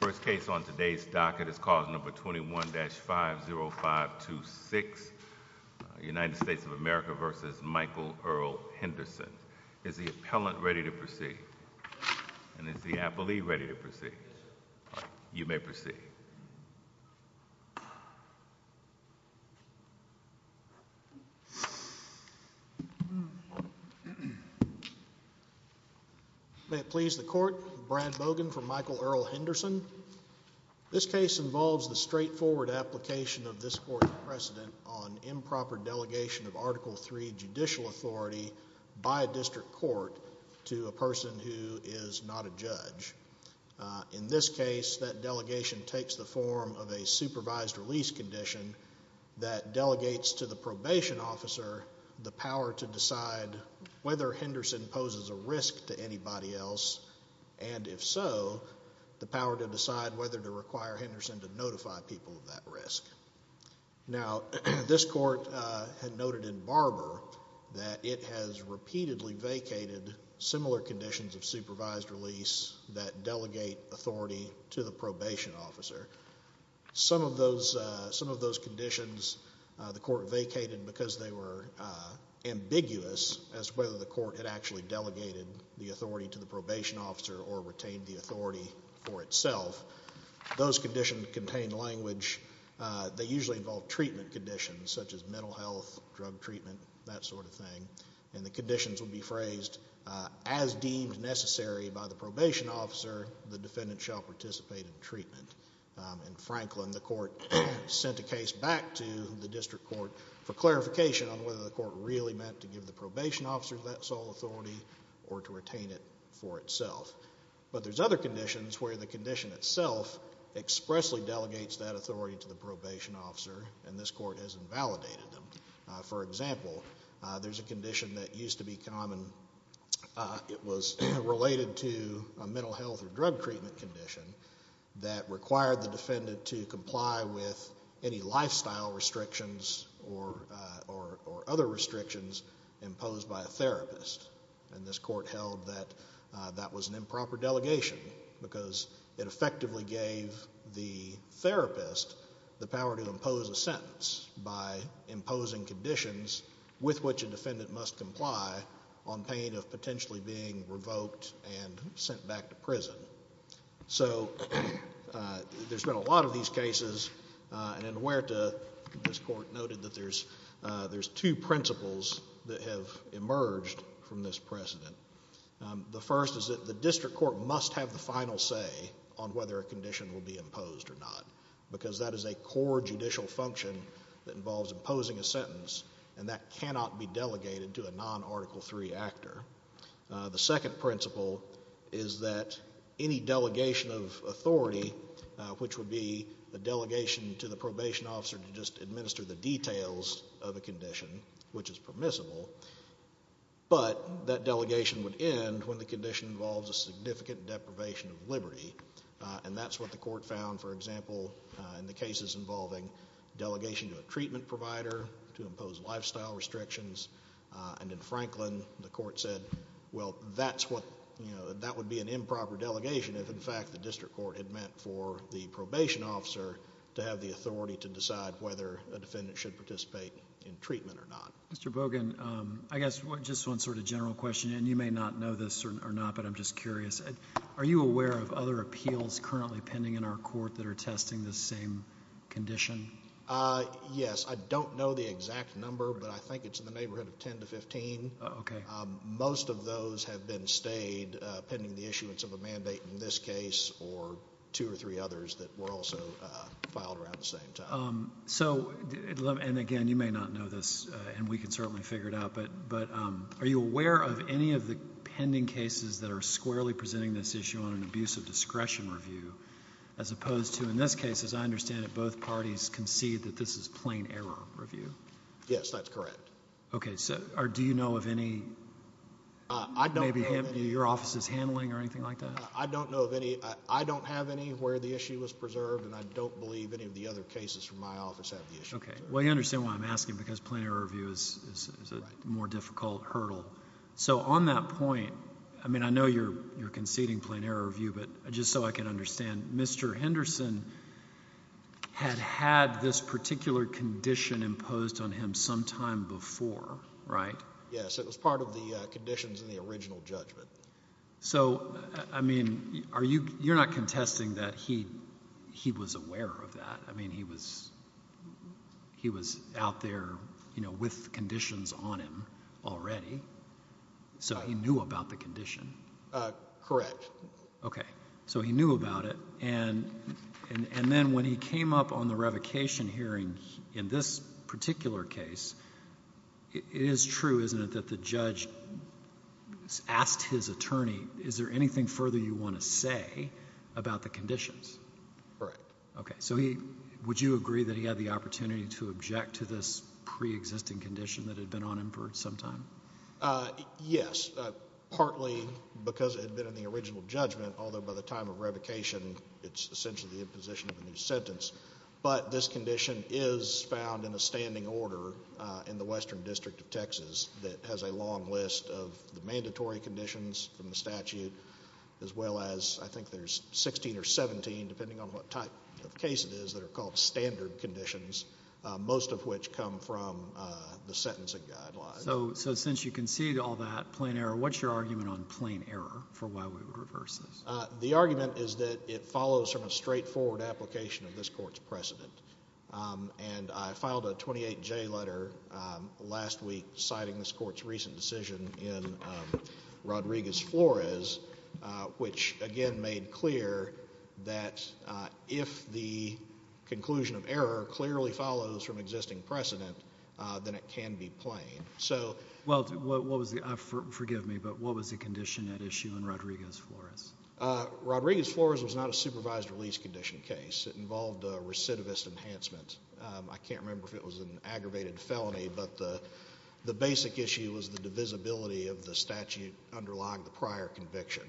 First case on today's docket is cause number 21-50526, United States of America v. Michael Earl Henderson. Is the appellant ready to proceed, and is the appellee ready to proceed? You may proceed. May it please the court, Brad Bogan for Michael Earl Henderson. This case involves the straightforward application of this court's precedent on improper delegation of Article III judicial authority by a district court to a person who is not a judge. In this case, that delegation takes the form of a supervised release condition that delegates to the probation officer the power to decide whether Henderson poses a risk to anybody else, and if so, the power to decide whether to require Henderson to notify people of that risk. Now, this court had noted in Barber that it has repeatedly vacated similar conditions of supervised release that delegate authority to the probation officer. Some of those conditions the court vacated because they were ambiguous as to whether the court had actually delegated the authority to the probation officer or retained the authority for itself. Those conditions contain language. They usually involve treatment conditions such as mental health, drug treatment, that sort of thing, and the conditions would be phrased, as deemed necessary by the probation officer, the defendant shall participate in treatment. In Franklin, the court sent a case back to the district court for clarification on whether the court really meant to give the probation officer that sole authority or to retain it for itself. But there's other conditions where the condition itself expressly delegates that authority to the probation officer and this court has invalidated them. For example, there's a condition that used to be common. It was related to a mental health or drug treatment condition that required the defendant to comply with any lifestyle restrictions or other restrictions imposed by a therapist. And this court held that that was an improper delegation because it effectively gave the therapist the power to impose a sentence by imposing conditions with which a defendant must comply on pain of potentially being revoked and sent back to prison. So there's been a lot of these cases and in Huerta, this court noted that there's two principles that have emerged from this precedent. The first is that the district court must have the final say on whether a condition will be imposed or not because that is a core judicial function that involves imposing a sentence and that cannot be delegated to a non-Article III actor. The second principle is that any delegation of authority, which would be the delegation to the probation officer to just administer the details of a condition, which is permissible, but that delegation would end when the condition involves a significant deprivation of liberty. And that's what the court found, for example, in the cases involving delegation to a treatment provider to impose lifestyle restrictions. And in Franklin, the court said, well, that would be an improper delegation if, in fact, the district court had meant for the probation officer to have the authority to decide whether a defendant should participate in treatment or not. Mr. Bogan, I guess just one sort of general question, and you may not know this or not, but I'm just curious. Are you aware of other appeals currently pending in our court that are testing the same condition? Yes, I don't know the exact number, but I think it's in the neighborhood of 10 to 15. Most of those have been stayed pending the issuance of a mandate in this case or two or three others that were also filed around the same time. So, and again, you may not know this, and we can certainly figure it out, but are you aware of any of the pending cases that are squarely presenting this issue on an abuse of discretion review as opposed to, in this case, as I understand it, both parties concede that this is plain error review? Yes, that's correct. Okay, so do you know of any, maybe your office's handling or anything like that? I don't know of any. I don't have any where the issue was preserved, and I don't believe any of the other cases from my office have the issue. Okay, well, you understand why I'm asking, because plain error review is a more difficult hurdle. So on that point, I mean, I know you're conceding plain error review, but just so I can understand, Mr. Henderson had had this particular condition imposed on him sometime before, right? Yes, it was part of the conditions in the original judgment. So, I mean, you're not contesting that he was aware of that. I mean, he was out there with conditions on him already, so he knew about the condition. Correct. Okay, so he knew about it, and then when he came up on the revocation hearing in this particular case, it is true, isn't it, that the judge asked his attorney, is there anything further you want to say about the conditions? Correct. Okay, so would you agree that he had the opportunity to object to this preexisting condition that had been on him for some time? Yes, partly because it had been in the original judgment, although by the time of revocation, it's essentially the imposition of a new sentence. But this condition is found in a standing order in the Western District of Texas that has a long list of the mandatory conditions from the statute, as well as I think there's 16 or 17, depending on what type of case it is, that are called standard conditions, most of which come from the sentencing guidelines. Okay, so since you concede all that, plain error, what's your argument on plain error for why we would reverse this? The argument is that it follows from a straightforward application of this Court's precedent, and I filed a 28J letter last week citing this Court's recent decision in Rodriguez-Flores, which again made clear that if the conclusion of error clearly follows from existing precedent, then it can be plain. Well, forgive me, but what was the condition at issue in Rodriguez-Flores? Rodriguez-Flores was not a supervised release condition case. It involved recidivist enhancement. I can't remember if it was an aggravated felony, but the basic issue was the divisibility of the statute underlying the prior conviction.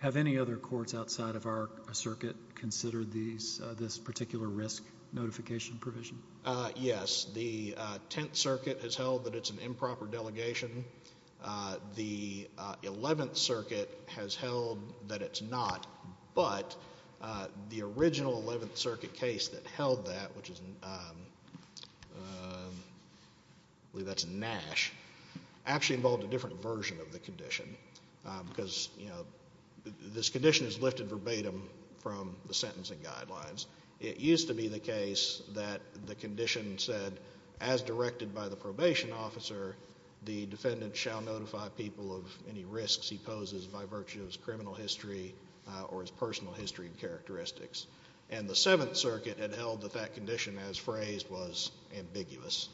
Have any other courts outside of our circuit considered this particular risk notification provision? Yes. The Tenth Circuit has held that it's an improper delegation. The Eleventh Circuit has held that it's not. But the original Eleventh Circuit case that held that, which is, I believe that's Nash, actually involved a different version of the condition because, you know, this condition is lifted verbatim from the sentencing guidelines. It used to be the case that the condition said, as directed by the probation officer, the defendant shall notify people of any risks he poses by virtue of his criminal history or his personal history and characteristics. And the Seventh Circuit had held that that condition, as phrased, was ambiguous.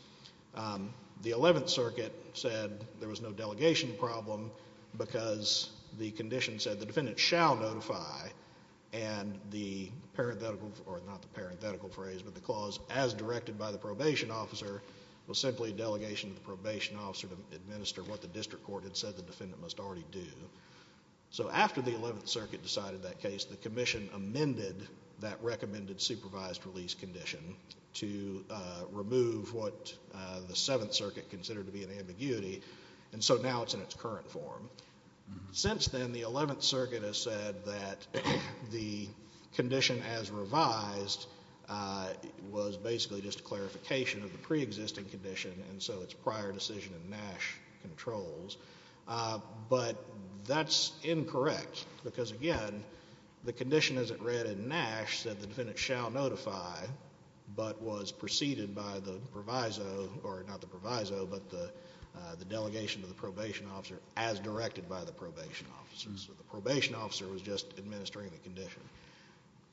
The Eleventh Circuit said there was no delegation problem because the condition said the defendant shall notify, and the parenthetical, or not the parenthetical phrase, but the clause, as directed by the probation officer, was simply delegation to the probation officer to administer what the district court had said the defendant must already do. So after the Eleventh Circuit decided that case, the Commission amended that recommended supervised release condition to remove what the Seventh Circuit considered to be an ambiguity, and so now it's in its current form. Since then, the Eleventh Circuit has said that the condition as revised was basically just a clarification of the preexisting condition and so its prior decision in Nash controls. But that's incorrect because, again, the condition as it read in Nash said the defendant shall notify but was preceded by the proviso, or not the proviso, but the delegation to the probation officer as directed by the probation officer. So the probation officer was just administering the condition.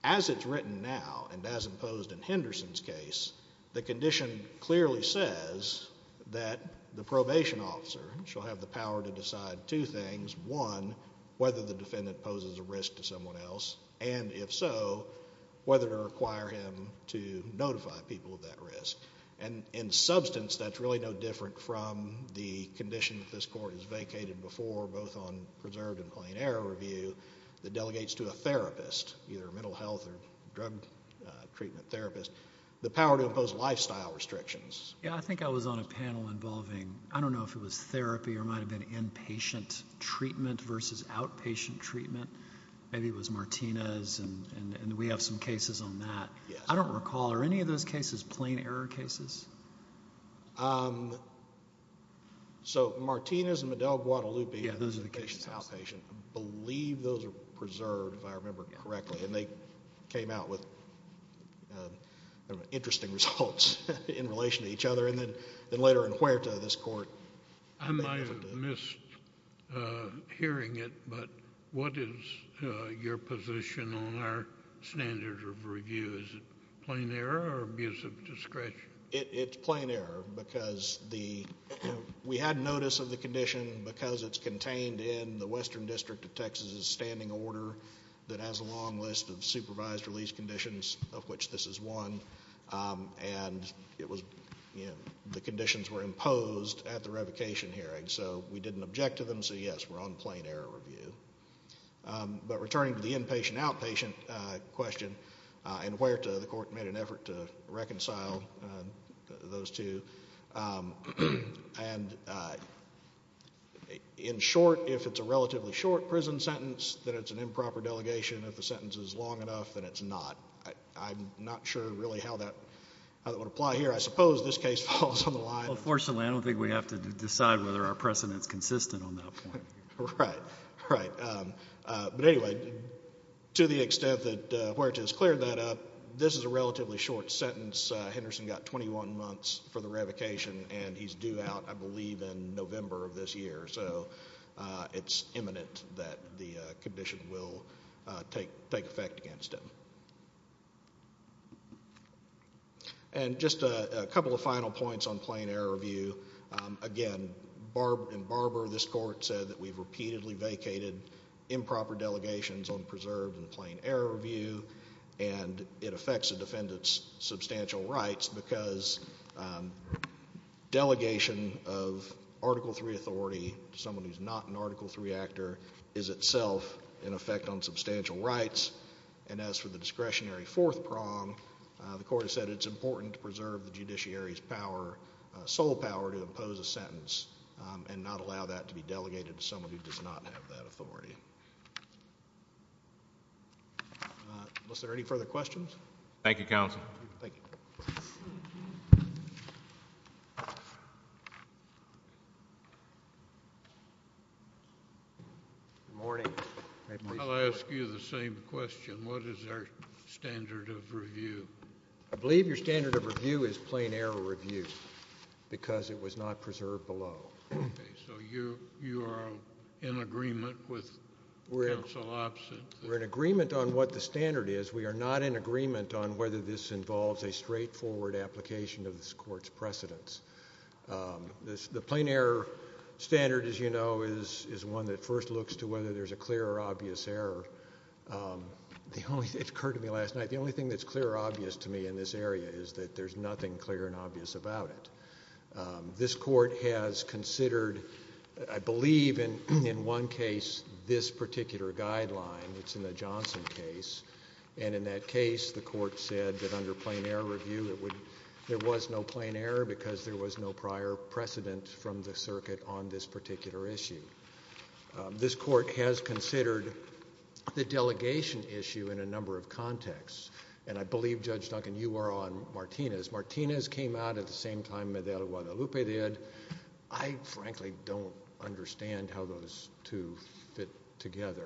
As it's written now and as imposed in Henderson's case, the condition clearly says that the probation officer shall have the power to decide two things. One, whether the defendant poses a risk to someone else, and if so, whether to require him to notify people of that risk. And in substance, that's really no different from the condition that this Court has vacated before, both on preserved and plain error review that delegates to a therapist, either a mental health or drug treatment therapist, the power to impose lifestyle restrictions. Yeah, I think I was on a panel involving, I don't know if it was therapy or might have been inpatient treatment versus outpatient treatment. Maybe it was Martinez, and we have some cases on that. I don't recall. Are any of those cases plain error cases? So Martinez and Madeleine Guadalupe. Yeah, those are the cases. I believe those are preserved, if I remember correctly. And they came out with interesting results in relation to each other. And then later in Huerta, this Court vacated it. I might have missed hearing it, but what is your position on our standard of review? Is it plain error or abuse of discretion? It's plain error because we had notice of the condition because it's contained in the Western District of Texas' standing order that has a long list of supervised release conditions of which this is one. And it was, you know, the conditions were imposed at the revocation hearing. So we didn't object to them. So, yes, we're on plain error review. But returning to the inpatient-outpatient question and Huerta, the Court made an effort to reconcile those two. And in short, if it's a relatively short prison sentence, then it's an improper delegation. If the sentence is long enough, then it's not. I'm not sure really how that would apply here. I suppose this case falls on the line. Well, fortunately, I don't think we have to decide whether our precedent is consistent on that point. Right, right. But anyway, to the extent that Huerta has cleared that up, this is a relatively short sentence. Henderson got 21 months for the revocation, and he's due out, I believe, in November of this year. So it's imminent that the condition will take effect against him. And just a couple of final points on plain error review. Again, in Barber, this Court said that we've repeatedly vacated improper delegations on preserved and plain error review, and it affects a defendant's substantial rights because delegation of Article III authority to someone who's not an Article III actor is itself an effect on substantial rights. And as for the discretionary fourth prong, the Court has said it's important to preserve the judiciary's sole power to impose a sentence and not allow that to be delegated to someone who does not have that authority. Thank you. Unless there are any further questions? Thank you, Counsel. Thank you. Good morning. I'll ask you the same question. What is our standard of review? I believe your standard of review is plain error review because it was not preserved below. Okay, so you are in agreement with counsel opposite? We're in agreement on what the standard is. We are not in agreement on whether this involves a straightforward application of this Court's precedents. The plain error standard, as you know, is one that first looks to whether there's a clear or obvious error. It occurred to me last night, the only thing that's clear or obvious to me in this area is that there's nothing clear and obvious about it. This Court has considered, I believe in one case, this particular guideline. It's in the Johnson case. And in that case, the Court said that under plain error review, there was no plain error because there was no prior precedent from the circuit on this particular issue. This Court has considered the delegation issue in a number of contexts. And I believe, Judge Duncan, you are on Martinez. Martinez came out at the same time as Guadalupe did. I frankly don't understand how those two fit together.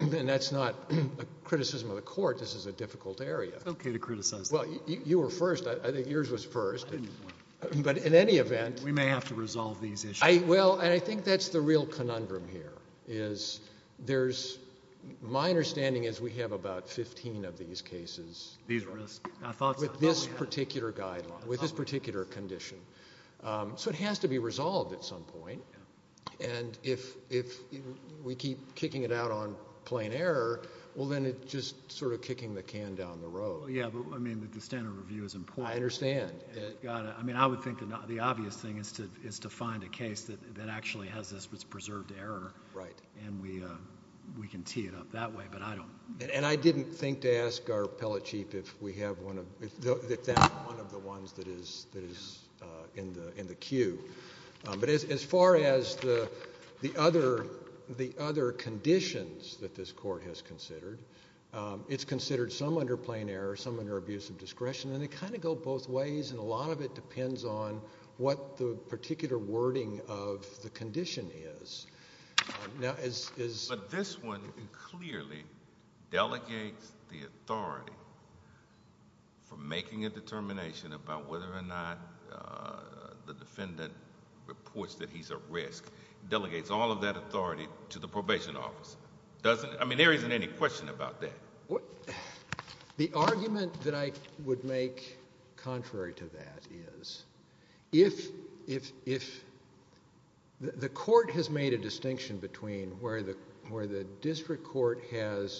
And that's not a criticism of the Court. This is a difficult area. It's okay to criticize. Well, you were first. I think yours was first. I didn't want to. But in any event. We may have to resolve these issues. Well, and I think that's the real conundrum here is there's, my understanding is we have about 15 of these cases. These risks. With this particular guideline, with this particular condition. So it has to be resolved at some point. And if we keep kicking it out on plain error, well, then it's just sort of kicking the can down the road. Yeah, but, I mean, the standard review is important. I understand. I mean, I would think the obvious thing is to find a case that actually has this preserved error. Right. And we can tee it up that way. And I didn't think to ask our appellate chief if that's one of the ones that is in the queue. But as far as the other conditions that this Court has considered, it's considered some under plain error, some under abusive discretion. And they kind of go both ways. And a lot of it depends on what the particular wording of the condition is. But this one clearly delegates the authority for making a determination about whether or not the defendant reports that he's at risk. Delegates all of that authority to the probation office. I mean, there isn't any question about that. The argument that I would make contrary to that is if the Court has made a distinction between where the district court has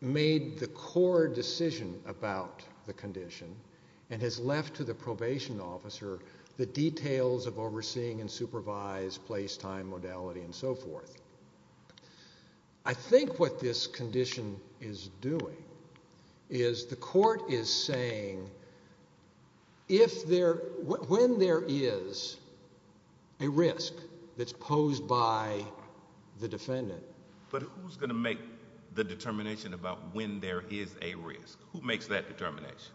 made the core decision about the condition and has left to the probation officer the details of overseeing and supervise, place, time, modality, and so forth. I think what this condition is doing is the Court is saying when there is a risk that's posed by the defendant. But who's going to make the determination about when there is a risk? Who makes that determination?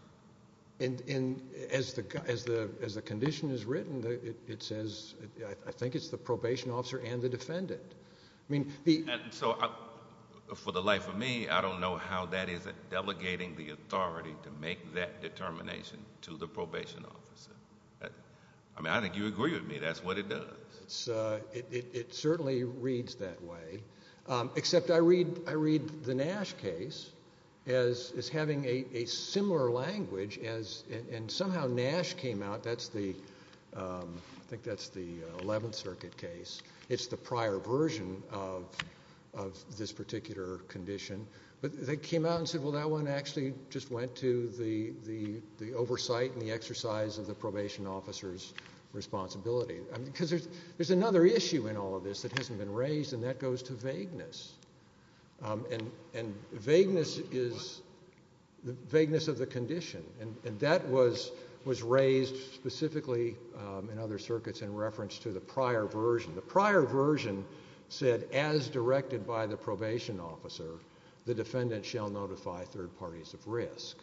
And as the condition is written, it says I think it's the probation officer and the defendant. I mean, the— And so for the life of me, I don't know how that is delegating the authority to make that determination to the probation officer. I mean, I think you agree with me. That's what it does. It certainly reads that way. Except I read the Nash case as having a similar language as—and somehow Nash came out. That's the—I think that's the Eleventh Circuit case. It's the prior version of this particular condition. But they came out and said, well, that one actually just went to the oversight and the exercise of the probation officer's responsibility. Because there's another issue in all of this that hasn't been raised, and that goes to vagueness. And vagueness is the vagueness of the condition. And that was raised specifically in other circuits in reference to the prior version. The prior version said as directed by the probation officer, the defendant shall notify third parties of risk.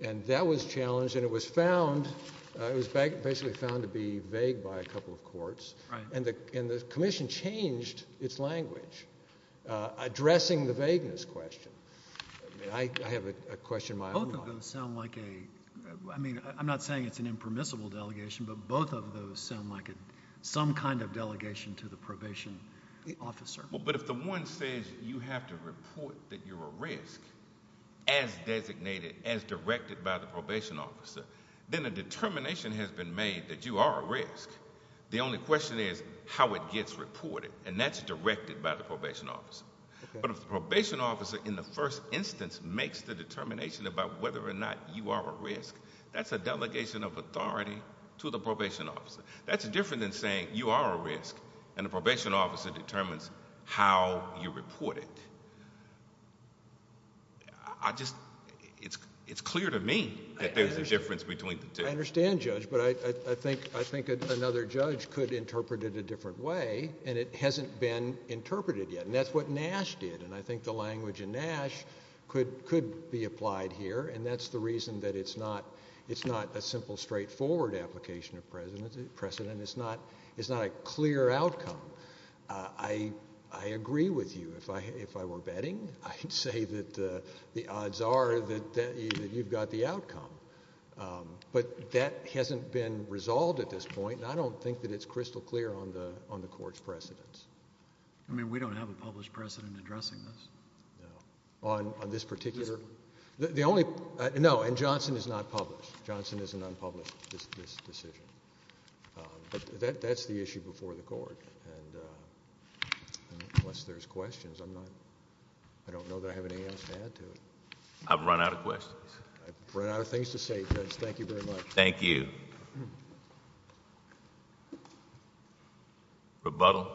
And that was challenged, and it was found—it was basically found to be vague by a couple of courts. And the commission changed its language, addressing the vagueness question. I have a question of my own. Both of those sound like a—I mean, I'm not saying it's an impermissible delegation, but both of those sound like some kind of delegation to the probation officer. Well, but if the one says you have to report that you're a risk as designated, as directed by the probation officer, then a determination has been made that you are a risk. The only question is how it gets reported, and that's directed by the probation officer. But if the probation officer in the first instance makes the determination about whether or not you are a risk, that's a delegation of authority to the probation officer. That's different than saying you are a risk and the probation officer determines how you report it. I just—it's clear to me that there's a difference between the two. I understand, Judge, but I think another judge could interpret it a different way, and it hasn't been interpreted yet. And that's what Nash did, and I think the language in Nash could be applied here, and that's the reason that it's not a simple, straightforward application of precedent. It's not a clear outcome. I agree with you. If I were betting, I'd say that the odds are that you've got the outcome. But that hasn't been resolved at this point, and I don't think that it's crystal clear on the Court's precedents. I mean, we don't have a published precedent addressing this. On this particular—the only—no, and Johnson is not published. Johnson is an unpublished decision. But that's the issue before the Court, and unless there's questions, I'm not—I don't know that I have anything else to add to it. I've run out of questions. I've run out of things to say, Judge. Thank you very much. Thank you. Thank you. Rebuttal.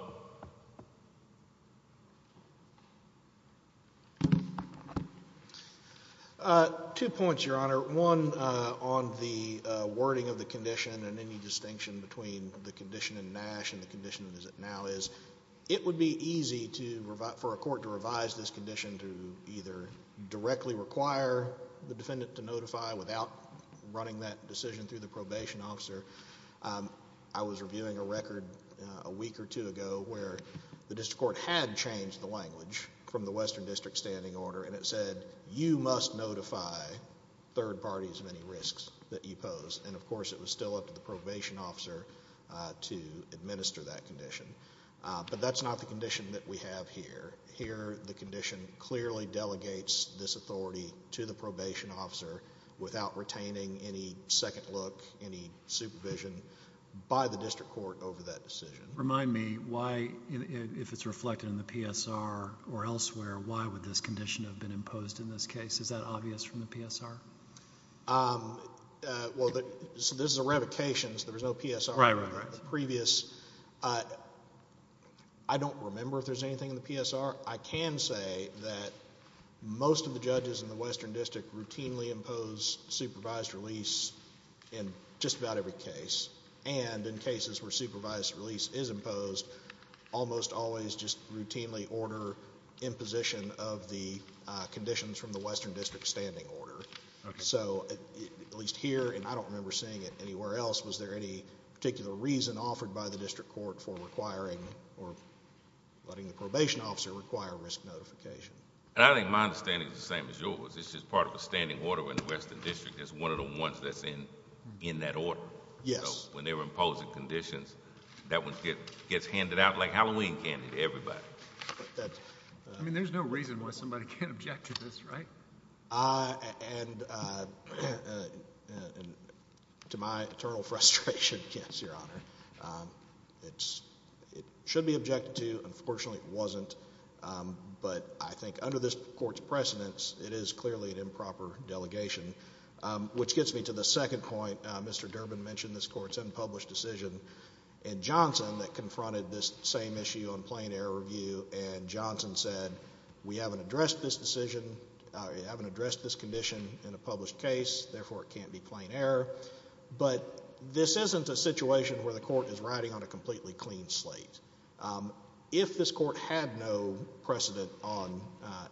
Two points, Your Honor. One, on the wording of the condition and any distinction between the condition in Nash and the condition as it now is, it would be easy to—for a court to revise this condition to either directly require the defendant to notify without running that decision through the probation officer. I was reviewing a record a week or two ago where the district court had changed the language from the Western District Standing Order, and it said you must notify third parties of any risks that you pose. And, of course, it was still up to the probation officer to administer that condition. But that's not the condition that we have here. Here, the condition clearly delegates this authority to the probation officer without retaining any second look, any supervision by the district court over that decision. Remind me why, if it's reflected in the PSR or elsewhere, why would this condition have been imposed in this case? Is that obvious from the PSR? Well, this is a revocation, so there's no PSR. Right, right, right. I don't remember if there's anything in the PSR. I can say that most of the judges in the Western District routinely impose supervised release in just about every case, and in cases where supervised release is imposed, almost always just routinely order imposition of the conditions from the Western District Standing Order. So, at least here, and I don't remember seeing it anywhere else, was there any particular reason offered by the district court for requiring or letting the probation officer require risk notification? I think my understanding is the same as yours. It's just part of a standing order in the Western District. It's one of the ones that's in that order. Yes. So when they're imposing conditions, that one gets handed out like Halloween candy to everybody. I mean, there's no reason why somebody can't object to this, right? And to my eternal frustration, yes, Your Honor, it should be objected to. Unfortunately, it wasn't. But I think under this court's precedence, it is clearly an improper delegation, which gets me to the second point. Mr. Durbin mentioned this court's unpublished decision in Johnson that confronted this same issue on plain error review, and Johnson said we haven't addressed this condition in a published case, therefore it can't be plain error. But this isn't a situation where the court is riding on a completely clean slate. If this court had no precedent on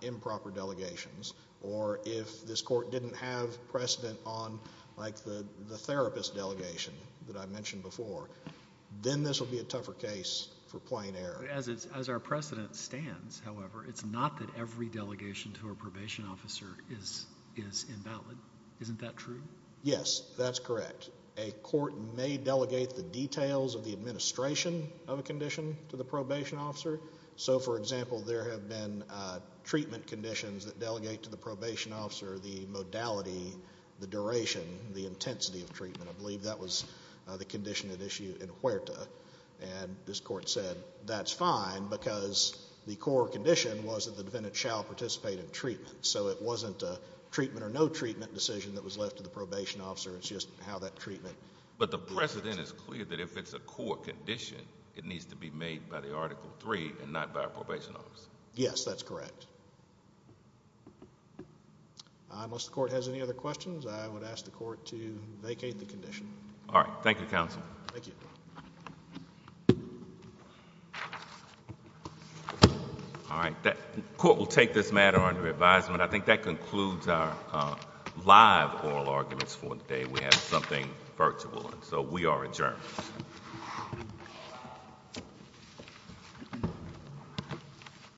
improper delegations or if this court didn't have precedent on, like, the therapist delegation that I mentioned before, then this would be a tougher case for plain error. As our precedent stands, however, it's not that every delegation to a probation officer is invalid. Isn't that true? Yes, that's correct. A court may delegate the details of the administration of a condition to the probation officer. So, for example, there have been treatment conditions that delegate to the probation officer the modality, the duration, the intensity of treatment. I believe that was the condition at issue in Huerta. And this court said that's fine because the core condition was that the defendant shall participate in treatment. So it wasn't a treatment or no treatment decision that was left to the probation officer. It's just how that treatment was addressed. But the precedent is clear that if it's a core condition, it needs to be made by the Article III and not by a probation officer. Yes, that's correct. Unless the court has any other questions, I would ask the court to vacate the condition. All right. Thank you, counsel. Thank you. All right. The court will take this matter under advisement. I think that concludes our live oral arguments for today. We have something virtual. So we are adjourned.